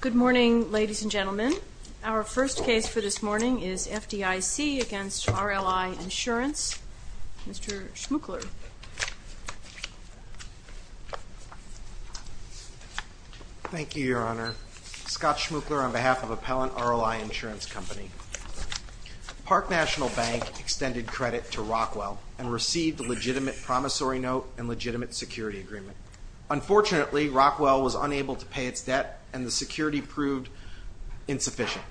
Good morning, ladies and gentlemen. Our first case for this morning is FDIC v. RLI Insurance Company. Mr. Schmuchler. Thank you, Your Honor. Scott Schmuchler on behalf of Appellant RLI Insurance Company. Park National Bank extended credit to Rockwell and received a legitimate promissory note and legitimate security agreement. Unfortunately, Rockwell was unable to pay its debt and the security proved insufficient.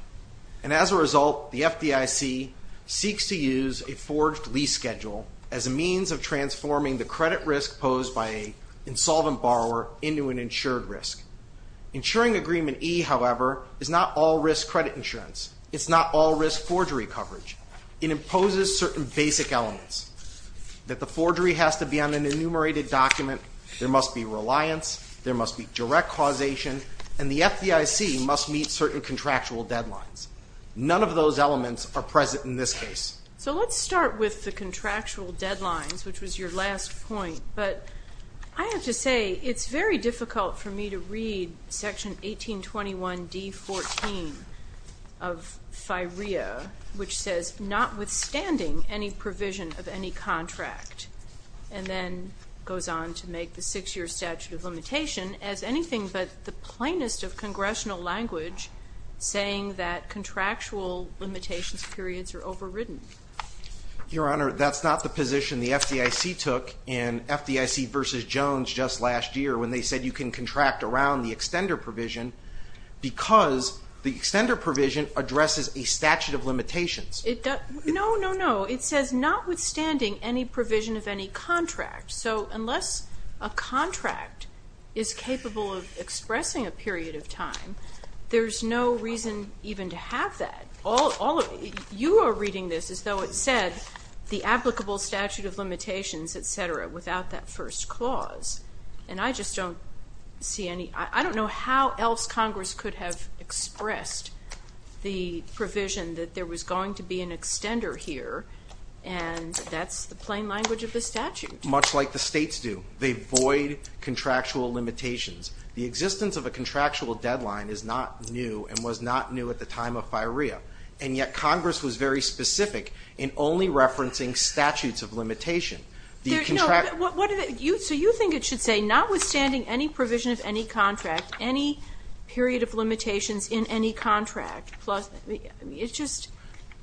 And as a result, the FDIC seeks to use a forged lease schedule as a means of transforming the credit risk posed by an insolvent borrower into an insured risk. Insuring Agreement E, however, is not all-risk credit insurance. It's not all-risk forgery coverage. It imposes certain basic elements that the forgery has to be on an enumerated document, there must be reliance, there must be direct causation, and the FDIC must meet certain contractual deadlines. None of those elements are present in this case. So let's start with the contractual deadlines, which was your last point. But I have to say, it's very difficult for me to read Section 1821 D14 of FIREA, which says, notwithstanding any provision of any contract, and then goes on to make the six-year statute of limitation as anything but the plainest of congressional language saying that contractual limitations periods are overridden. Your Honor, that's not the position the FDIC took in FDIC v. Jones just last year when they said you can contract around the extender provision because the extender provision addresses a statute of limitations. No, no, no. It says, notwithstanding any provision of any contract. So unless a contract is capable of expressing a period of time, there's no reason even to have that. You are reading this as though it said the applicable statute of limitations, et cetera, without that first clause. And I just don't see any – I don't know how else Congress could have expressed the provision that there was going to be an extender here, and that's the plain language of the statute. Much like the states do. They void contractual limitations. The existence of a contractual deadline is not new and was not new at the time of FIREA. And yet Congress was very specific in only referencing statutes of limitation. So you think it should say, notwithstanding any provision of any contract, any period of limitations in any contract, plus – it just –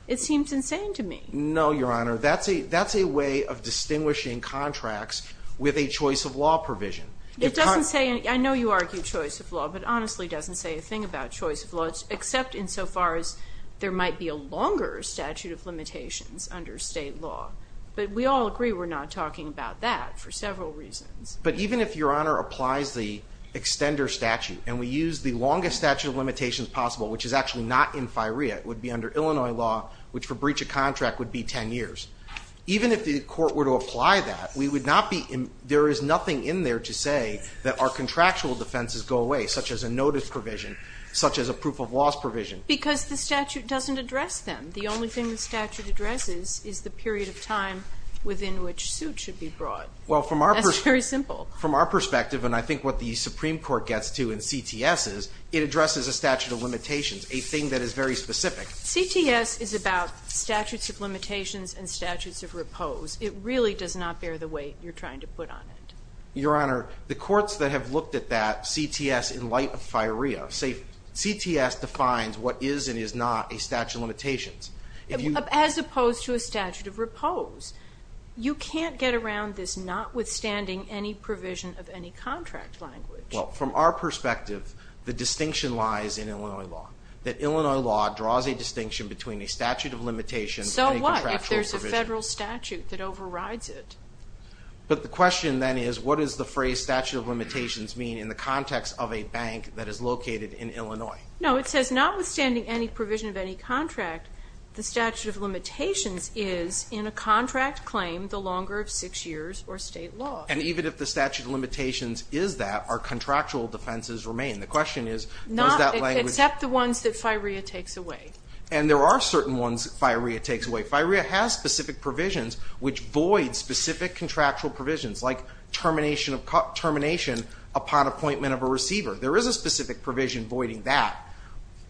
it seems insane to me. No, Your Honor. That's a way of distinguishing contracts with a choice of law provision. It doesn't say – I know you argue choice of law, but it honestly doesn't say a thing about choice of law, except insofar as there might be a longer statute of limitations under state law. But we all agree we're not talking about that for several reasons. But even if, Your Honor, applies the extender statute, and we use the longest statute of limitations possible, which is actually not in FIREA, it would be under Illinois law, which for breach of contract would be 10 years. Even if the court were to apply that, we would not be – there is nothing in there to say that our contractual defenses go away, such as a notice provision, such as a proof of loss provision. Because the statute doesn't address them. The only thing the statute addresses is the period of time within which suit should be brought. Well, from our – That's very simple. From our perspective, and I think what the Supreme Court gets to in CTS is, it addresses a statute of limitations, a thing that is very specific. CTS is about statutes of limitations and statutes of repose. It really does not bear the weight you're trying to put on it. Your Honor, the courts that have looked at that, CTS in light of FIREA, say CTS defines what is and is not a statute of limitations. As opposed to a statute of repose. You can't get around this notwithstanding any provision of any contract language. Well, from our perspective, the distinction lies in Illinois law. That Illinois law draws a distinction between a statute of limitations and a contractual provision. So what if there's a federal statute that overrides it? But the question then is, what does the phrase statute of limitations mean in the context of a bank that is located in Illinois? No, it says notwithstanding any provision of any contract, the statute of limitations is in a contract claim the longer of six years or state law. And even if the statute of limitations is that, our contractual defenses remain. The question is, does that language – Except the ones that FIREA takes away. And there are certain ones FIREA takes away. FIREA has specific provisions which void specific contractual provisions, like termination upon appointment of a receiver. There is a specific provision voiding that.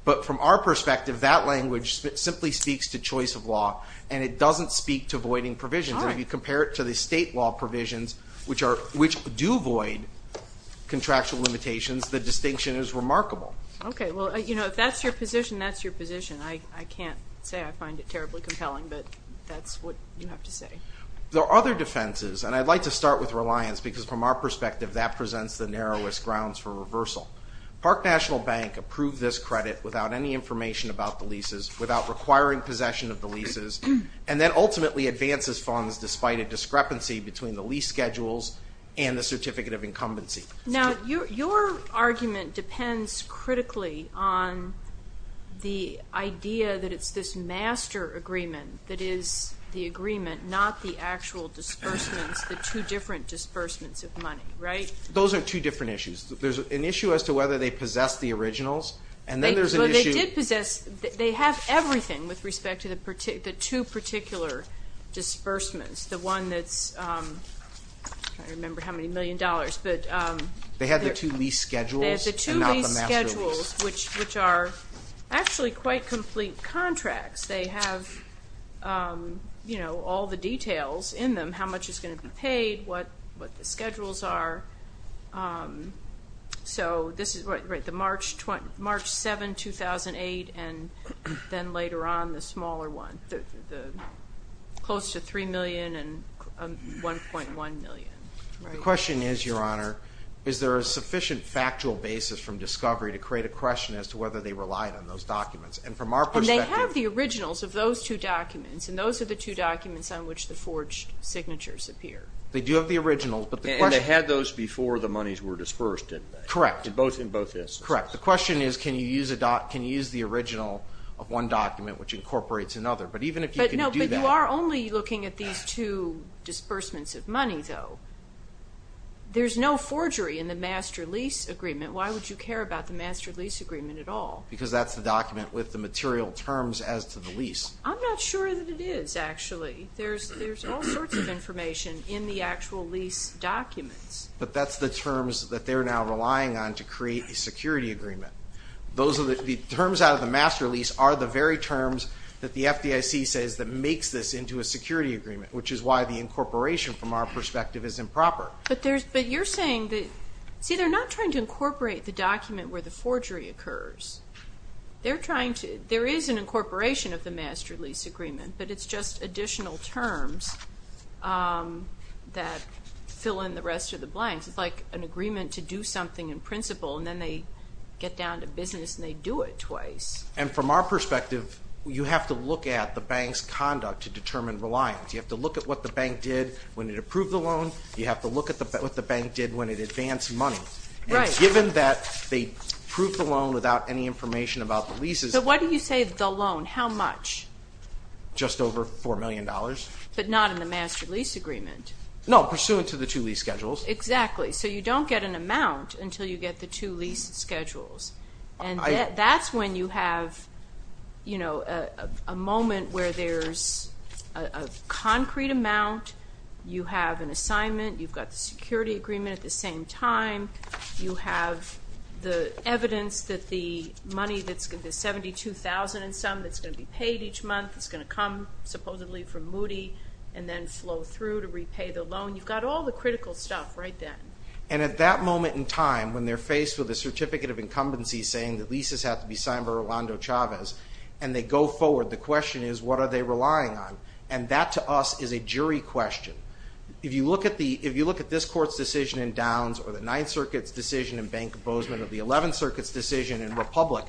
But from our perspective, that language simply speaks to choice of law, and it doesn't speak to voiding provisions. And if you compare it to the state law provisions, which do void contractual limitations, the distinction is remarkable. Okay. Well, you know, if that's your position, that's your position. I can't say I find it terribly compelling, but that's what you have to say. There are other defenses, and I'd like to start with reliance, because from our perspective, that presents the narrowest grounds for reversal. Park National Bank approved this credit without any information about the leases, without requiring possession of the leases, and then ultimately advances funds despite a discrepancy between the lease schedules and the certificate of incumbency. Now, your argument depends critically on the idea that it's this master agreement that is the agreement, not the actual disbursements, the two different disbursements of money. Right? Those are two different issues. There's an issue as to whether they possess the originals, and then there's an issue. They did possess. They have everything with respect to the two particular disbursements. The one that's ‑‑ I can't remember how many million dollars. They have the two lease schedules and not the master lease. They have the two lease schedules, which are actually quite complete contracts. They have, you know, all the details in them, how much is going to be paid, what the schedules are. So this is right, March 7, 2008, and then later on the smaller one, close to 3 million and 1.1 million. The question is, Your Honor, is there a sufficient factual basis from discovery to create a question as to whether they relied on those documents? And from our perspective ‑‑ And they have the originals of those two documents, and those are the two documents on which the forged signatures appear. They do have the originals, but the question ‑‑ And they had those before the monies were dispersed, didn't they? Correct. In both instances? Correct. The question is, can you use the original of one document, which incorporates another? But even if you can do that ‑‑ But you are only looking at these two disbursements of money, though. There's no forgery in the master lease agreement. Why would you care about the master lease agreement at all? Because that's the document with the material terms as to the lease. I'm not sure that it is, actually. There's all sorts of information in the actual lease documents. But that's the terms that they're now relying on to create a security agreement. The terms out of the master lease are the very terms that the FDIC says that makes this into a security agreement, which is why the incorporation, from our perspective, is improper. But you're saying that ‑‑ See, they're not trying to incorporate the document where the forgery occurs. They're trying to ‑‑ there is an incorporation of the master lease agreement, but it's just additional terms that fill in the rest of the blanks. It's like an agreement to do something in principle, and then they get down to business and they do it twice. And from our perspective, you have to look at the bank's conduct to determine reliance. You have to look at what the bank did when it approved the loan. You have to look at what the bank did when it advanced money. Right. And given that they approved the loan without any information about the leases ‑‑ So why do you say the loan? How much? Just over $4 million. But not in the master lease agreement. No, pursuant to the two lease schedules. Exactly. So you don't get an amount until you get the two lease schedules. And that's when you have, you know, a moment where there's a concrete amount, you have an assignment, you've got the security agreement at the same time, you have the evidence that the money, the $72,000 and some that's going to be paid each month is going to come supposedly from Moody and then flow through to repay the loan. You've got all the critical stuff right then. And at that moment in time, when they're faced with a certificate of incumbency saying that leases have to be signed by Rolando Chavez, and they go forward, the question is what are they relying on? And that to us is a jury question. If you look at this court's decision in Downs or the Ninth Circuit's decision in Bank of Bozeman or the Eleventh Circuit's decision in Republic,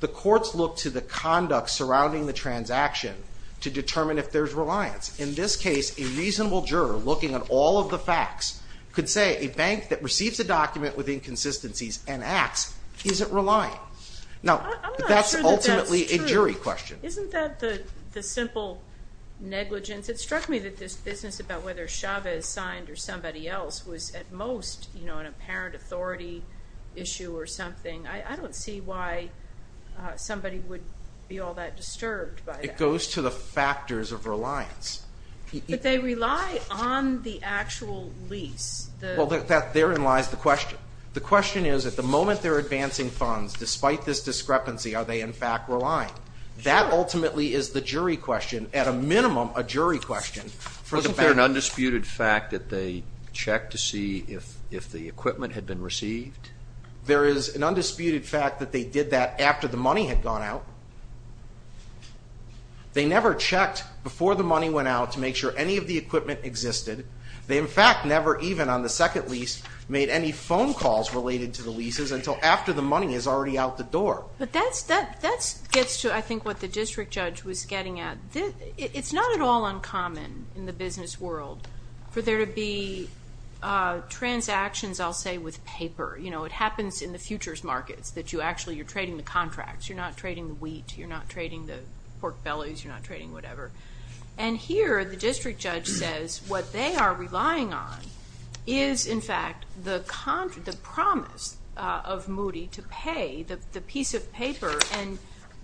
the courts look to the conduct surrounding the transaction to determine if there's reliance. In this case, a reasonable juror looking at all of the facts could say a bank that receives a document with inconsistencies and acts isn't reliant. Now, that's ultimately a jury question. Isn't that the simple negligence? It struck me that this business about whether Chavez signed or somebody else was at most an apparent authority issue or something. I don't see why somebody would be all that disturbed by that. It goes to the factors of reliance. But they rely on the actual lease. Well, therein lies the question. The question is at the moment they're advancing funds, despite this discrepancy, are they in fact reliant? That ultimately is the jury question. At a minimum, a jury question. Isn't there an undisputed fact that they checked to see if the equipment had been received? There is an undisputed fact that they did that after the money had gone out. They never checked before the money went out to make sure any of the equipment existed. They, in fact, never even on the second lease made any phone calls related to the leases until after the money is already out the door. That gets to, I think, what the district judge was getting at. It's not at all uncommon in the business world for there to be transactions, I'll say, with paper. It happens in the futures markets that you actually are trading the contracts. You're not trading the wheat. You're not trading the pork bellies. You're not trading whatever. And here the district judge says what they are relying on is, in fact, the promise of Moody to pay, the piece of paper, and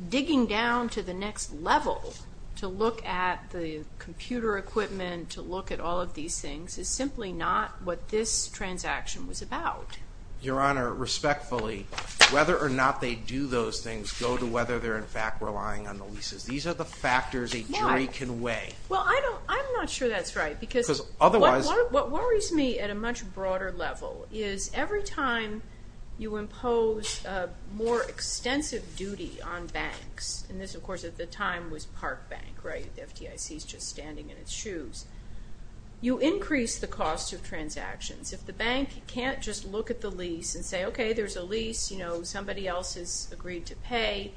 digging down to the next level to look at the computer equipment, to look at all of these things is simply not what this transaction was about. Your Honor, respectfully, whether or not they do those things go to whether they're, in fact, relying on the leases. These are the factors a jury can weigh. Well, I'm not sure that's right because what worries me at a much broader level is every time you impose a more extensive duty on banks, and this, of course, at the time was Park Bank, right? The FDIC is just standing in its shoes. You increase the cost of transactions. If the bank can't just look at the lease and say, okay, there's a lease. Somebody else has agreed to pay.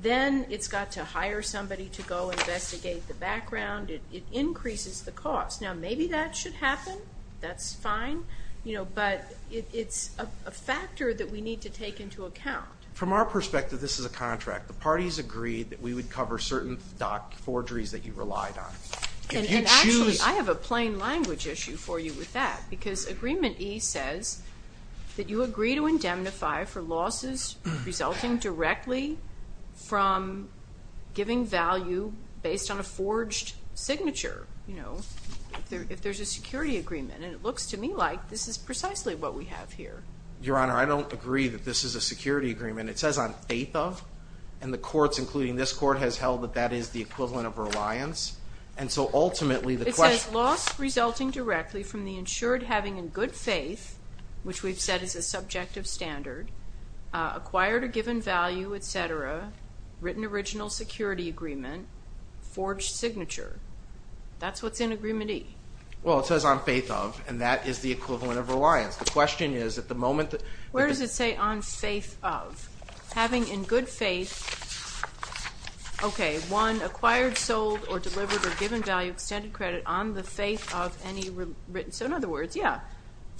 Then it's got to hire somebody to go investigate the background. It increases the cost. Now, maybe that should happen. That's fine. But it's a factor that we need to take into account. From our perspective, this is a contract. The parties agreed that we would cover certain dock forgeries that you relied on. And actually, I have a plain language issue for you with that because Agreement E says that you agree to indemnify for losses resulting directly from giving value based on a forged signature. If there's a security agreement, and it looks to me like this is precisely what we have here. Your Honor, I don't agree that this is a security agreement. It says on faith of, and the courts, including this court, has held that that is the equivalent of reliance. And so, ultimately, the question— It says loss resulting directly from the insured having in good faith, which we've said is a subjective standard, acquired a given value, et cetera, written original security agreement, forged signature. That's what's in Agreement E. Well, it says on faith of, and that is the equivalent of reliance. The question is, at the moment— Where does it say on faith of? Having in good faith, okay, one acquired, sold, or delivered a given value of extended credit on the faith of any written— So, in other words, yeah,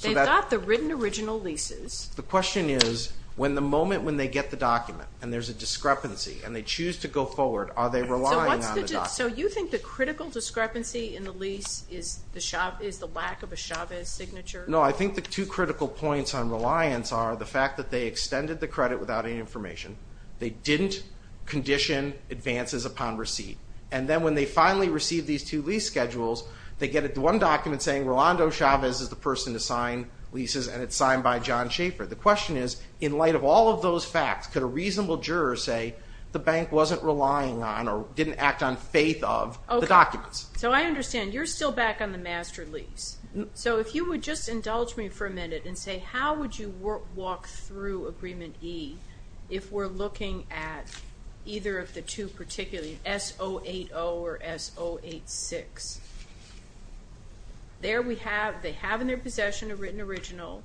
they've got the written original leases. The question is, when the moment when they get the document, and there's a discrepancy, and they choose to go forward, are they relying on the document? So, you think the critical discrepancy in the lease is the lack of a Chavez signature? No, I think the two critical points on reliance are the fact that they extended the credit without any information. They didn't condition advances upon receipt. And then, when they finally receive these two lease schedules, they get one document saying Rolando Chavez is the person to sign leases, and it's signed by John Schaefer. The question is, in light of all of those facts, could a reasonable juror say the bank wasn't relying on or didn't act on faith of the documents? So, I understand. You're still back on the master lease. So, if you would just indulge me for a minute and say, how would you walk through Agreement E if we're looking at either of the two particularly, S080 or S086? There we have, they have in their possession a written original.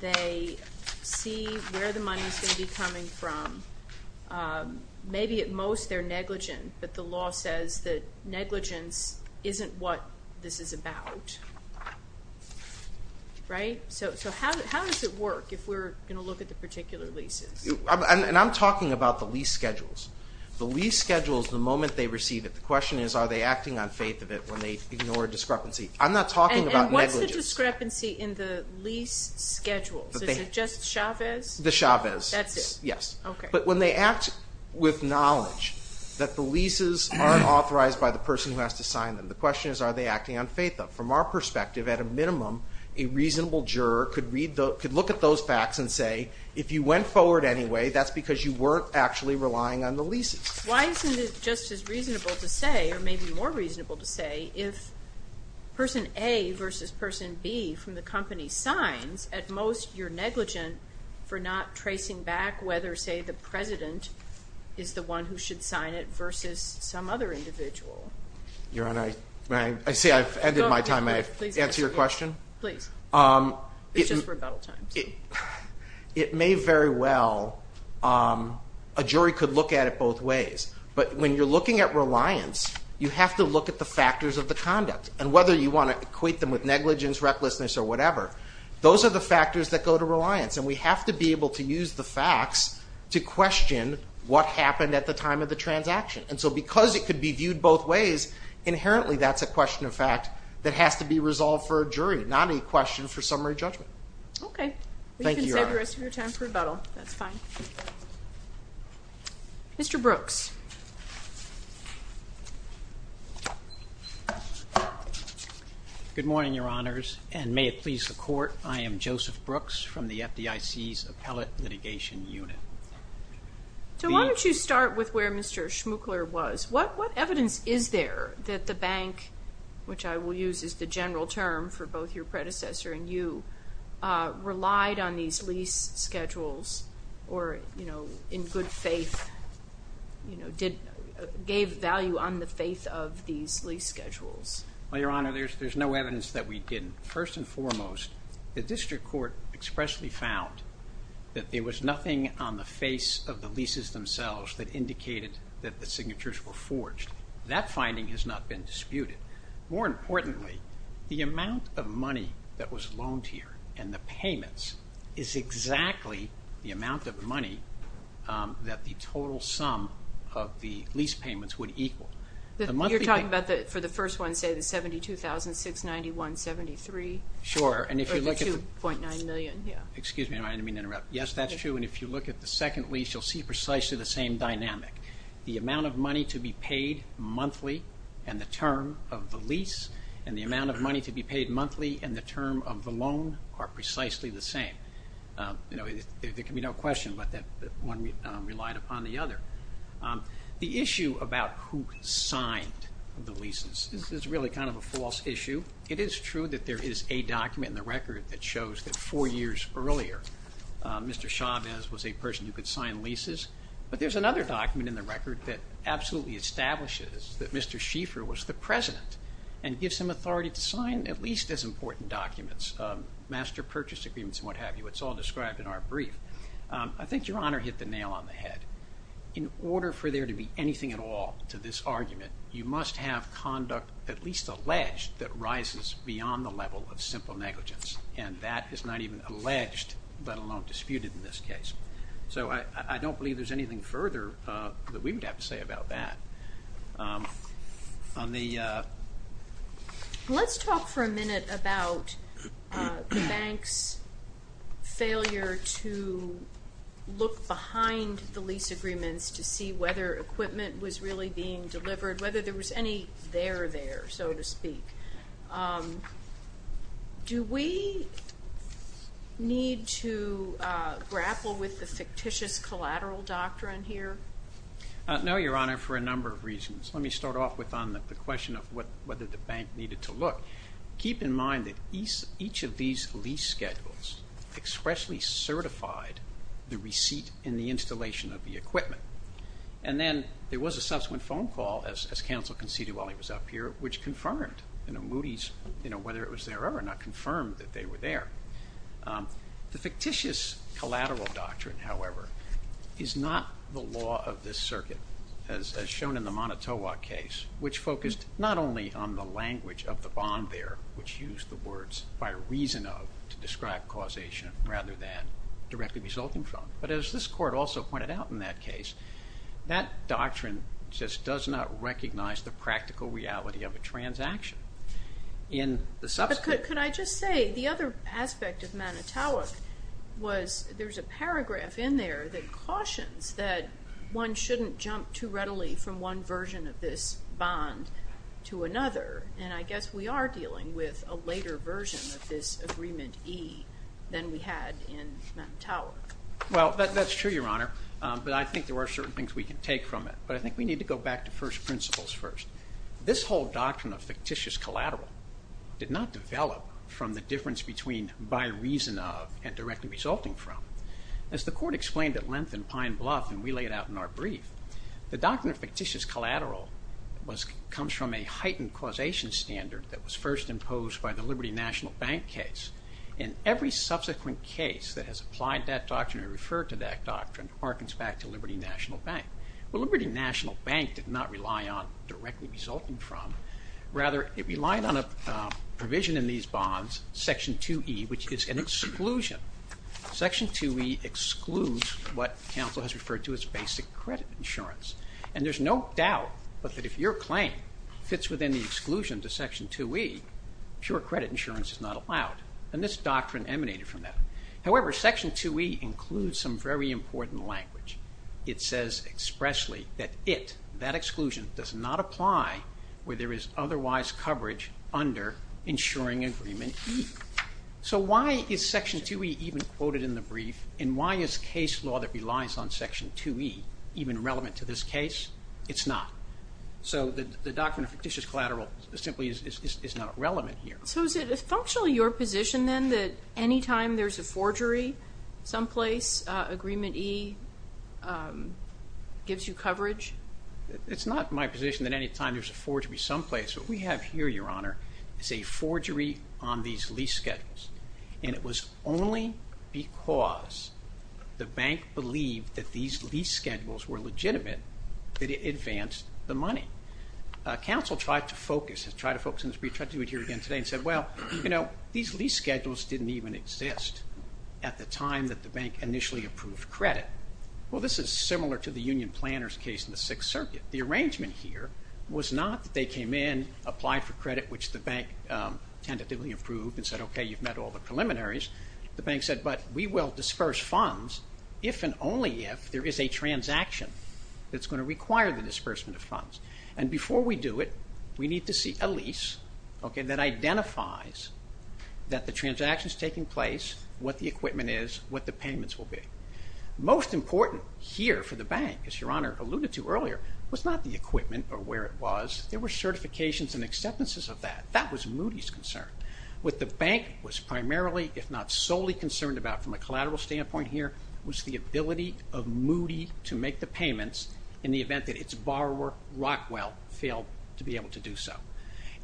They see where the money is going to be coming from. Maybe at most they're negligent, but the law says that negligence isn't what this is about. Right? So, how does it work if we're going to look at the particular leases? And I'm talking about the lease schedules. The lease schedules, the moment they receive it, the question is, are they acting on faith of it when they ignore discrepancy? I'm not talking about negligence. And what's the discrepancy in the lease schedules? Is it just Chavez? The Chavez. That's it. Yes. Okay. But when they act with knowledge that the leases aren't authorized by the person who has to sign them, the question is, are they acting on faith of it? From our perspective, at a minimum, a reasonable juror could look at those facts and say, if you went forward anyway, that's because you weren't actually relying on the leases. Why isn't it just as reasonable to say, or maybe more reasonable to say, if person A versus person B from the company signs, at most you're negligent for not tracing back whether, say, the president is the one who should sign it versus some other individual? Your Honor, I say I've ended my time. May I answer your question? Please. It's just rebuttal time. It may very well, a jury could look at it both ways. But when you're looking at reliance, you have to look at the factors of the conduct. And whether you want to equate them with negligence, recklessness, or whatever, those are the factors that go to reliance. And we have to be able to use the facts to question what happened at the time of the transaction. And so because it could be viewed both ways, inherently that's a question of fact that has to be resolved for a jury, not a question for summary judgment. Thank you, Your Honor. You can save the rest of your time for rebuttal. That's fine. Mr. Brooks. Good morning, Your Honors, and may it please the Court, I am Joseph Brooks from the FDIC's Appellate Litigation Unit. So why don't you start with where Mr. Schmuchler was. What evidence is there that the bank, which I will use as the general term for both your predecessor and you, relied on these lease schedules or, you know, in good faith, you know, gave value on the faith of these lease schedules? Well, Your Honor, there's no evidence that we didn't. First and foremost, the district court expressly found that there was nothing on the face of the leases themselves that indicated that the signatures were forged. That finding has not been disputed. More importantly, the amount of money that was loaned here and the payments is exactly the amount of money that the total sum of the lease payments would equal. You're talking about for the first one, say, the $72,691.73? Sure. Or the $2.9 million, yeah. Excuse me, I didn't mean to interrupt. Yes, that's true. And if you look at the second lease, you'll see precisely the same dynamic. The amount of money to be paid monthly and the term of the lease and the amount of money to be paid monthly and the term of the loan are precisely the same. You know, there can be no question but that one relied upon the other. The issue about who signed the leases is really kind of a false issue. It is true that there is a document in the record that shows that four years earlier, Mr. Chavez was a person who could sign leases, but there's another document in the record that absolutely establishes that Mr. Schieffer was the president and gives him authority to sign at least as important documents, master purchase agreements and what have you. It's all described in our brief. I think Your Honor hit the nail on the head. In order for there to be anything at all to this argument, you must have conduct at least alleged that rises beyond the level of simple negligence, and that is not even alleged, let alone disputed in this case. So I don't believe there's anything further that we would have to say about that. Let's talk for a minute about the bank's failure to look behind the lease agreements to see whether equipment was really being delivered, whether there was any there there, so to speak. Do we need to grapple with the fictitious collateral doctrine here? No, Your Honor, for a number of reasons. Let me start off with the question of whether the bank needed to look. Keep in mind that each of these lease schedules expressly certified the receipt and the installation of the equipment. And then there was a subsequent phone call, as counsel conceded while he was up here, which confirmed Moody's, whether it was there or not, confirmed that they were there. The fictitious collateral doctrine, however, is not the law of this circuit, as shown in the Manitowoc case, which focused not only on the language of the bond there, which used the words by reason of to describe causation rather than directly resulting from, but as this court also pointed out in that case, that doctrine just does not recognize the practical reality of a transaction. Could I just say the other aspect of Manitowoc was there's a paragraph in there that cautions that one shouldn't jump too readily from one version of this bond to another. And I guess we are dealing with a later version of this agreement E than we had in Manitowoc. Well, that's true, Your Honor, but I think there are certain things we can take from it. But I think we need to go back to first principles first. This whole doctrine of fictitious collateral did not develop from the difference between by reason of and directly resulting from. As the court explained at length in Pine Bluff, and we laid out in our brief, the doctrine of fictitious collateral comes from a heightened causation standard that was first imposed by the Liberty National Bank case. And every subsequent case that has applied that doctrine or referred to that doctrine harkens back to Liberty National Bank. Well, Liberty National Bank did not rely on directly resulting from. Rather, it relied on a provision in these bonds, Section 2E, which is an exclusion. Section 2E excludes what counsel has referred to as basic credit insurance. And there's no doubt that if your claim fits within the exclusion to Section 2E, pure credit insurance is not allowed. And this doctrine emanated from that. However, Section 2E includes some very important language. It says expressly that it, that exclusion, does not apply where there is otherwise coverage under insuring agreement E. So why is Section 2E even quoted in the brief, and why is case law that relies on Section 2E even relevant to this case? It's not. So the doctrine of fictitious collateral simply is not relevant here. So is it functionally your position then that any time there's a forgery someplace, agreement E gives you coverage? It's not my position that any time there's a forgery someplace. What we have here, Your Honor, is a forgery on these lease schedules. And it was only because the bank believed that these lease schedules were legitimate that it advanced the money. Counsel tried to focus in this brief, tried to do it here again today, and said, well, you know, these lease schedules didn't even exist at the time that the bank initially approved credit. Well, this is similar to the union planner's case in the Sixth Circuit. The arrangement here was not that they came in, applied for credit, which the bank tentatively approved, and said, okay, you've met all the preliminaries. The bank said, but we will disperse funds if and only if there is a transaction that's going to require the disbursement of funds. And before we do it, we need to see a lease that identifies that the transaction is taking place, what the equipment is, what the payments will be. Most important here for the bank, as Your Honor alluded to earlier, was not the equipment or where it was. There were certifications and acceptances of that. That was Moody's concern. What the bank was primarily, if not solely, concerned about from a collateral standpoint here was the ability of Moody to make the payments in the event that its borrower, Rockwell, failed to be able to do so.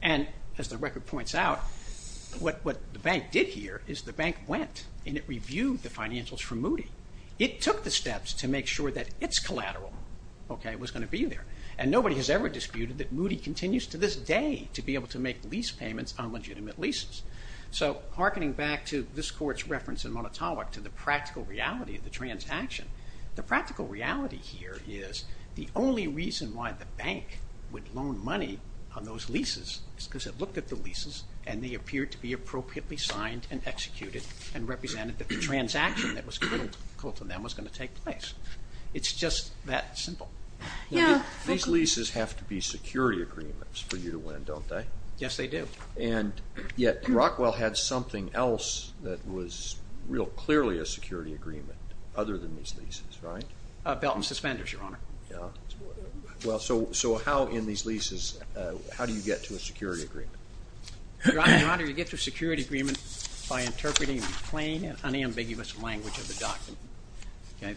And as the record points out, what the bank did here is the bank went and it reviewed the financials from Moody. It took the steps to make sure that its collateral was going to be there. And nobody has ever disputed that Moody continues to this day to be able to make lease payments on legitimate leases. So hearkening back to this Court's reference in Monotonic to the practical reality of the transaction, the practical reality here is the only reason why the bank would loan money on those leases is because it looked at the leases and they appeared to be appropriately signed and executed and represented that the transaction that was called to them was going to take place. It's just that simple. These leases have to be security agreements for you to win, don't they? Yes, they do. And yet Rockwell had something else that was real clearly a security agreement other than these leases, right? Belt and suspenders, Your Honor. Yeah. Well, so how in these leases, how do you get to a security agreement? Your Honor, you get to a security agreement by interpreting the plain and unambiguous language of the document.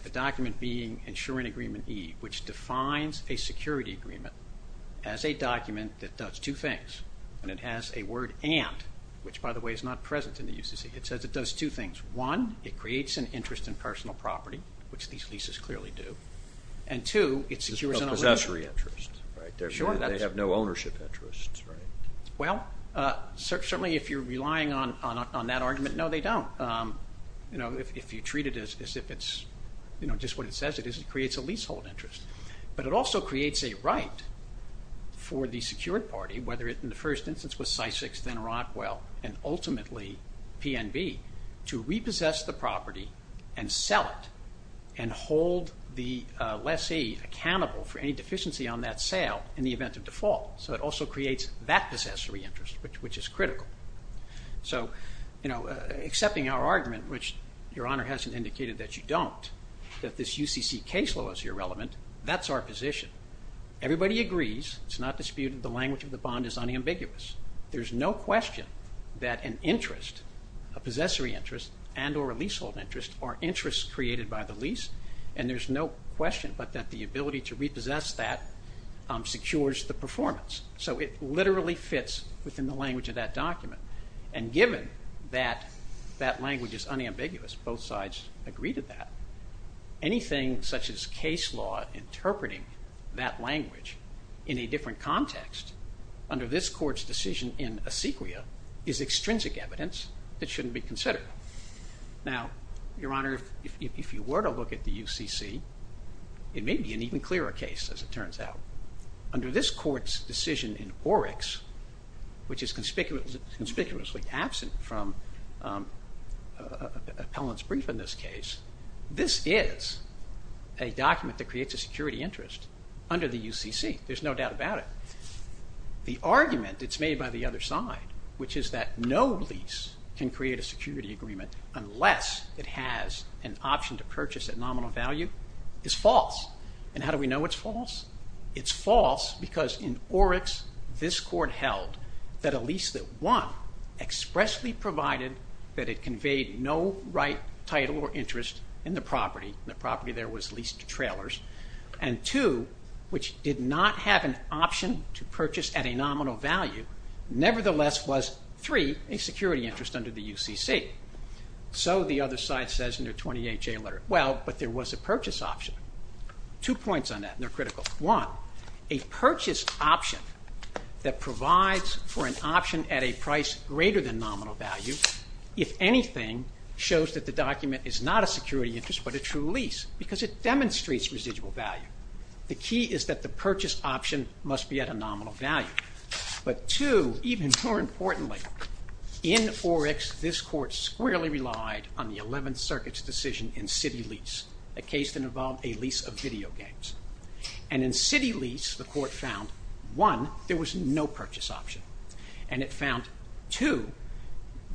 The document being insuring agreement E, which defines a security agreement as a document that does two things. And it has a word and, which, by the way, is not present in the UCC. It says it does two things. One, it creates an interest in personal property, which these leases clearly do. And two, it secures an ownership. Possessory interest, right? Sure. They have no ownership interest, right? Well, certainly if you're relying on that argument, no, they don't. If you treat it as if it's just what it says it is, it creates a leasehold interest. But it also creates a right for the secured party, whether it, in the first instance, was Sysex, then Rockwell, and ultimately PNB, to repossess the property and sell it and hold the lessee accountable for any deficiency on that sale in the event of default. So it also creates that possessory interest, which is critical. So, you know, accepting our argument, which Your Honor hasn't indicated that you don't, that this UCC case law is irrelevant, that's our position. Everybody agrees. It's not disputed. The language of the bond is unambiguous. There's no question that an interest, a possessory interest and or a leasehold interest, are interests created by the lease, and there's no question but that the ability to repossess that secures the performance. So it literally fits within the language of that document. And given that that language is unambiguous, both sides agree to that, anything such as case law interpreting that language in a different context, under this Court's decision in a sequia, is extrinsic evidence that shouldn't be considered. Now, Your Honor, if you were to look at the UCC, it may be an even clearer case, as it turns out. Under this Court's decision in Oryx, which is conspicuously absent from appellant's brief in this case, this is a document that creates a security interest under the UCC. There's no doubt about it. The argument that's made by the other side, which is that no lease can create a security agreement unless it has an option to purchase at nominal value, is false. And how do we know it's false? It's false because in Oryx, this Court held that a lease that, one, expressly provided that it conveyed no right, title, or interest in the property, and the property there was leased to trailers, and two, which did not have an option to purchase at a nominal value, nevertheless was, three, a security interest under the UCC. So the other side says in their 28-J letter, well, but there was a purchase option. Two points on that, and they're critical. One, a purchase option that provides for an option at a price greater than nominal value, if anything, shows that the document is not a security interest but a true lease because it demonstrates residual value. The key is that the purchase option must be at a nominal value. But two, even more importantly, in Oryx, this Court squarely relied on the 11th Circuit's decision in city lease, a case that involved a lease of video games. And in city lease, the Court found, one, there was no purchase option, and it found, two,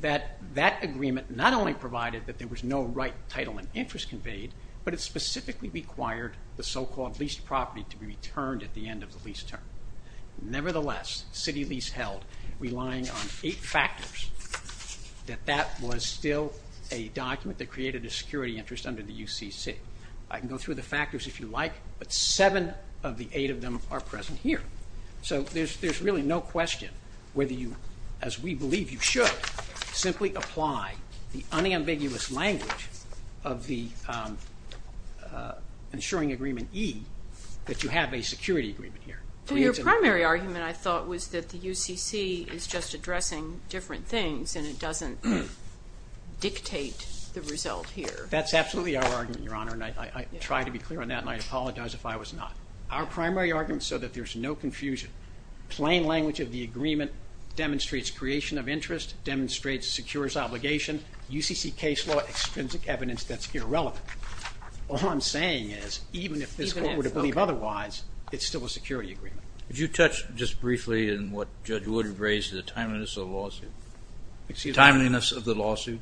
that that agreement not only provided that there was no right, title, and interest conveyed, but it specifically required the so-called leased property to be returned at the end of the lease term. Nevertheless, city lease held, relying on eight factors, that that was still a document that created a security interest under the UCC. I can go through the factors if you like, but seven of the eight of them are present here. So there's really no question whether you, as we believe you should, simply apply the unambiguous language of the ensuring agreement E, that you have a security agreement here. Your primary argument, I thought, was that the UCC is just addressing different things and it doesn't dictate the result here. That's absolutely our argument, Your Honor, and I try to be clear on that, and I apologize if I was not. Our primary argument is so that there's no confusion. Plain language of the agreement demonstrates creation of interest, demonstrates secures obligation. UCC case law, extrinsic evidence that's irrelevant. All I'm saying is, even if this Court were to believe otherwise, it's still a security agreement. Could you touch just briefly on what Judge Wood raised, the timeliness of the lawsuit? Timeliness of the lawsuit?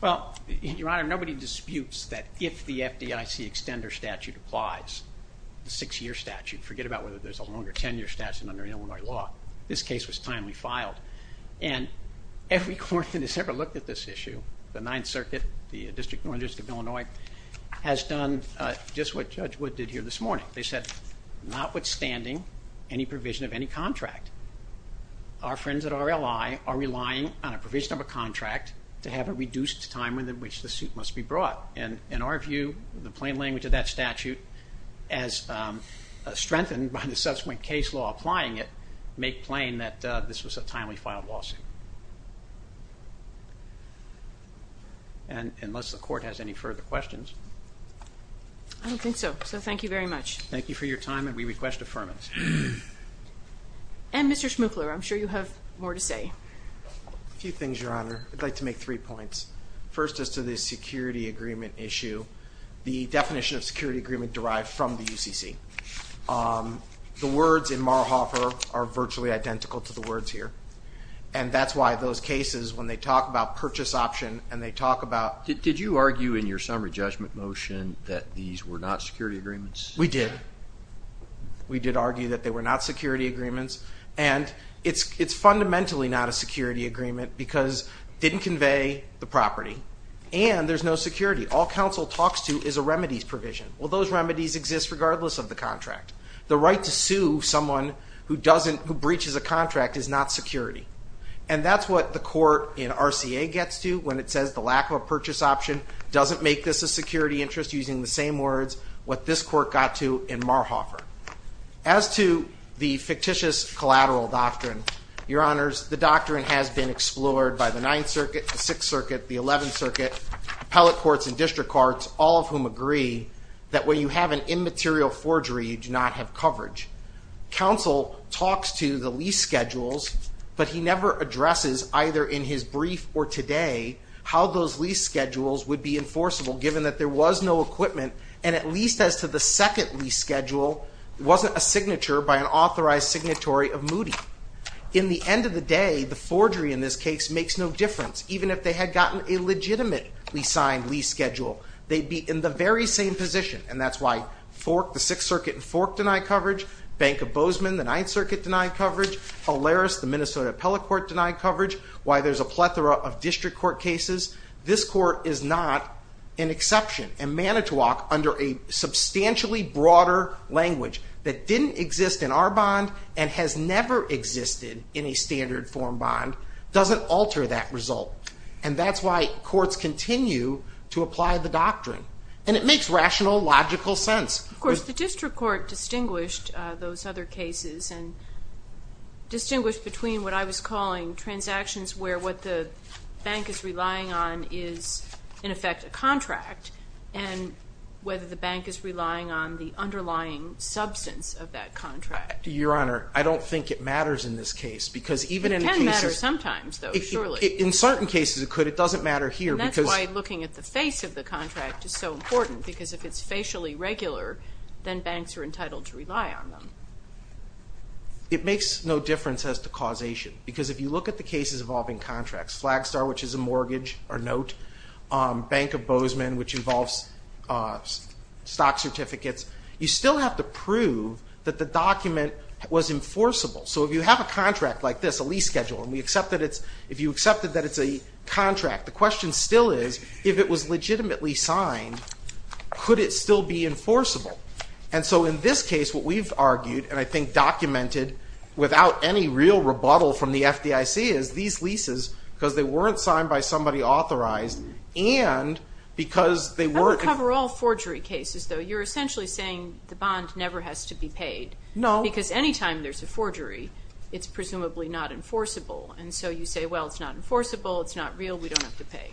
Well, Your Honor, nobody disputes that if the FDIC extender statute applies, the six-year statute, forget about whether there's a longer ten-year statute under Illinois law, this case was timely filed. And every court that has ever looked at this issue, the Ninth Circuit, the District of Illinois, has done just what Judge Wood did here this morning. They said, notwithstanding any provision of any contract, our friends at RLI are relying on a provision of a contract to have a reduced time in which the suit must be brought. And in our view, the plain language of that statute, as strengthened by the subsequent case law applying it, make plain that this was a timely filed lawsuit. Unless the Court has any further questions. I don't think so. So thank you very much. Thank you for your time, and we request affirmance. And Mr. Schmuchler, I'm sure you have more to say. A few things, Your Honor. I'd like to make three points. First, as to the security agreement issue, the definition of security agreement derived from the UCC. The words in Marhoffer are virtually identical to the words here, and that's why those cases, when they talk about purchase option and they talk about Did you argue in your summary judgment motion that these were not security agreements? We did. We did argue that they were not security agreements, and it's fundamentally not a security agreement because it didn't convey the property, and there's no security. All counsel talks to is a remedies provision. Well, those remedies exist regardless of the contract. The right to sue someone who breaches a contract is not security, and that's what the court in RCA gets to when it says the lack of a purchase option doesn't make this a security interest using the same words, what this court got to in Marhoffer. As to the fictitious collateral doctrine, Your Honors, the doctrine has been explored by the Ninth Circuit, the Sixth Circuit, the Eleventh Circuit, appellate courts and district courts, all of whom agree that when you have an immaterial forgery, you do not have coverage. Counsel talks to the lease schedules, but he never addresses either in his brief or today how those lease schedules would be enforceable given that there was no equipment, and at least as to the second lease schedule, it wasn't a signature by an authorized signatory of Moody. In the end of the day, the forgery in this case makes no difference. Even if they had gotten a legitimately signed lease schedule, they'd be in the very same position, and that's why the Sixth Circuit in Fork denied coverage, Bank of Bozeman, the Ninth Circuit denied coverage, Olaris, the Minnesota appellate court denied coverage, why there's a plethora of district court cases. This court is not an exception, and Manitowoc, under a substantially broader language that didn't exist in our bond and has never existed in a standard form bond, doesn't alter that result, and that's why courts continue to apply the doctrine. And it makes rational, logical sense. Of course, the district court distinguished those other cases and distinguished between what I was calling transactions where what the bank is relying on is, in effect, a contract, and whether the bank is relying on the underlying substance of that contract. Your Honor, I don't think it matters in this case, because even in a case of the court. It can matter sometimes, though, surely. In certain cases it could. It doesn't matter here, because. That's why looking at the face of the contract is so important, because if it's facially regular, then banks are entitled to rely on them. It makes no difference as to causation, because if you look at the cases involving contracts, Flagstar, which is a mortgage or note, Bank of Bozeman, which involves stock certificates, you still have to prove that the document was enforceable. So if you have a contract like this, a lease schedule, and if you accept that it's a contract, the question still is, if it was legitimately signed, could it still be enforceable? And so in this case what we've argued, and I think documented without any real rebuttal from the FDIC, is these leases, because they weren't signed by somebody authorized, and because they weren't. I would cover all forgery cases, though. You're essentially saying the bond never has to be paid. No. Because any time there's a forgery, it's presumably not enforceable. And so you say, well, it's not enforceable, it's not real, we don't have to pay.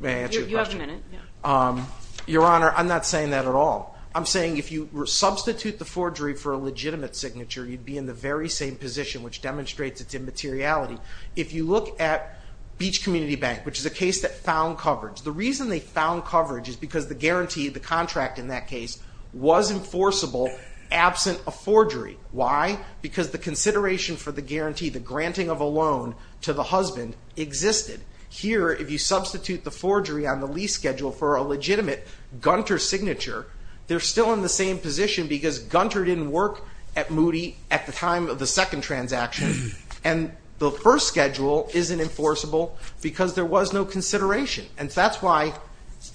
May I answer your question? You have a minute. Your Honor, I'm not saying that at all. I'm saying if you substitute the forgery for a legitimate signature, you'd be in the very same position, which demonstrates its immateriality. If you look at Beach Community Bank, which is a case that found coverage, the reason they found coverage is because the guarantee, the contract in that case, was enforceable absent a forgery. Why? Because the consideration for the guarantee, the granting of a loan to the husband, existed. Here, if you substitute the forgery on the lease schedule for a legitimate Gunter signature, they're still in the same position because Gunter didn't work at Moody at the time of the second transaction. And the first schedule isn't enforceable because there was no consideration. And that's why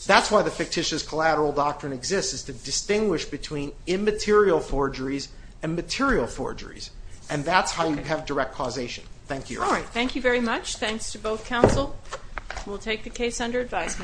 the fictitious collateral doctrine exists, is to distinguish between immaterial forgeries and material forgeries. And that's how you have direct causation. Thank you, Your Honor. All right. Thank you very much. Thanks to both counsel. We'll take the case under advisement.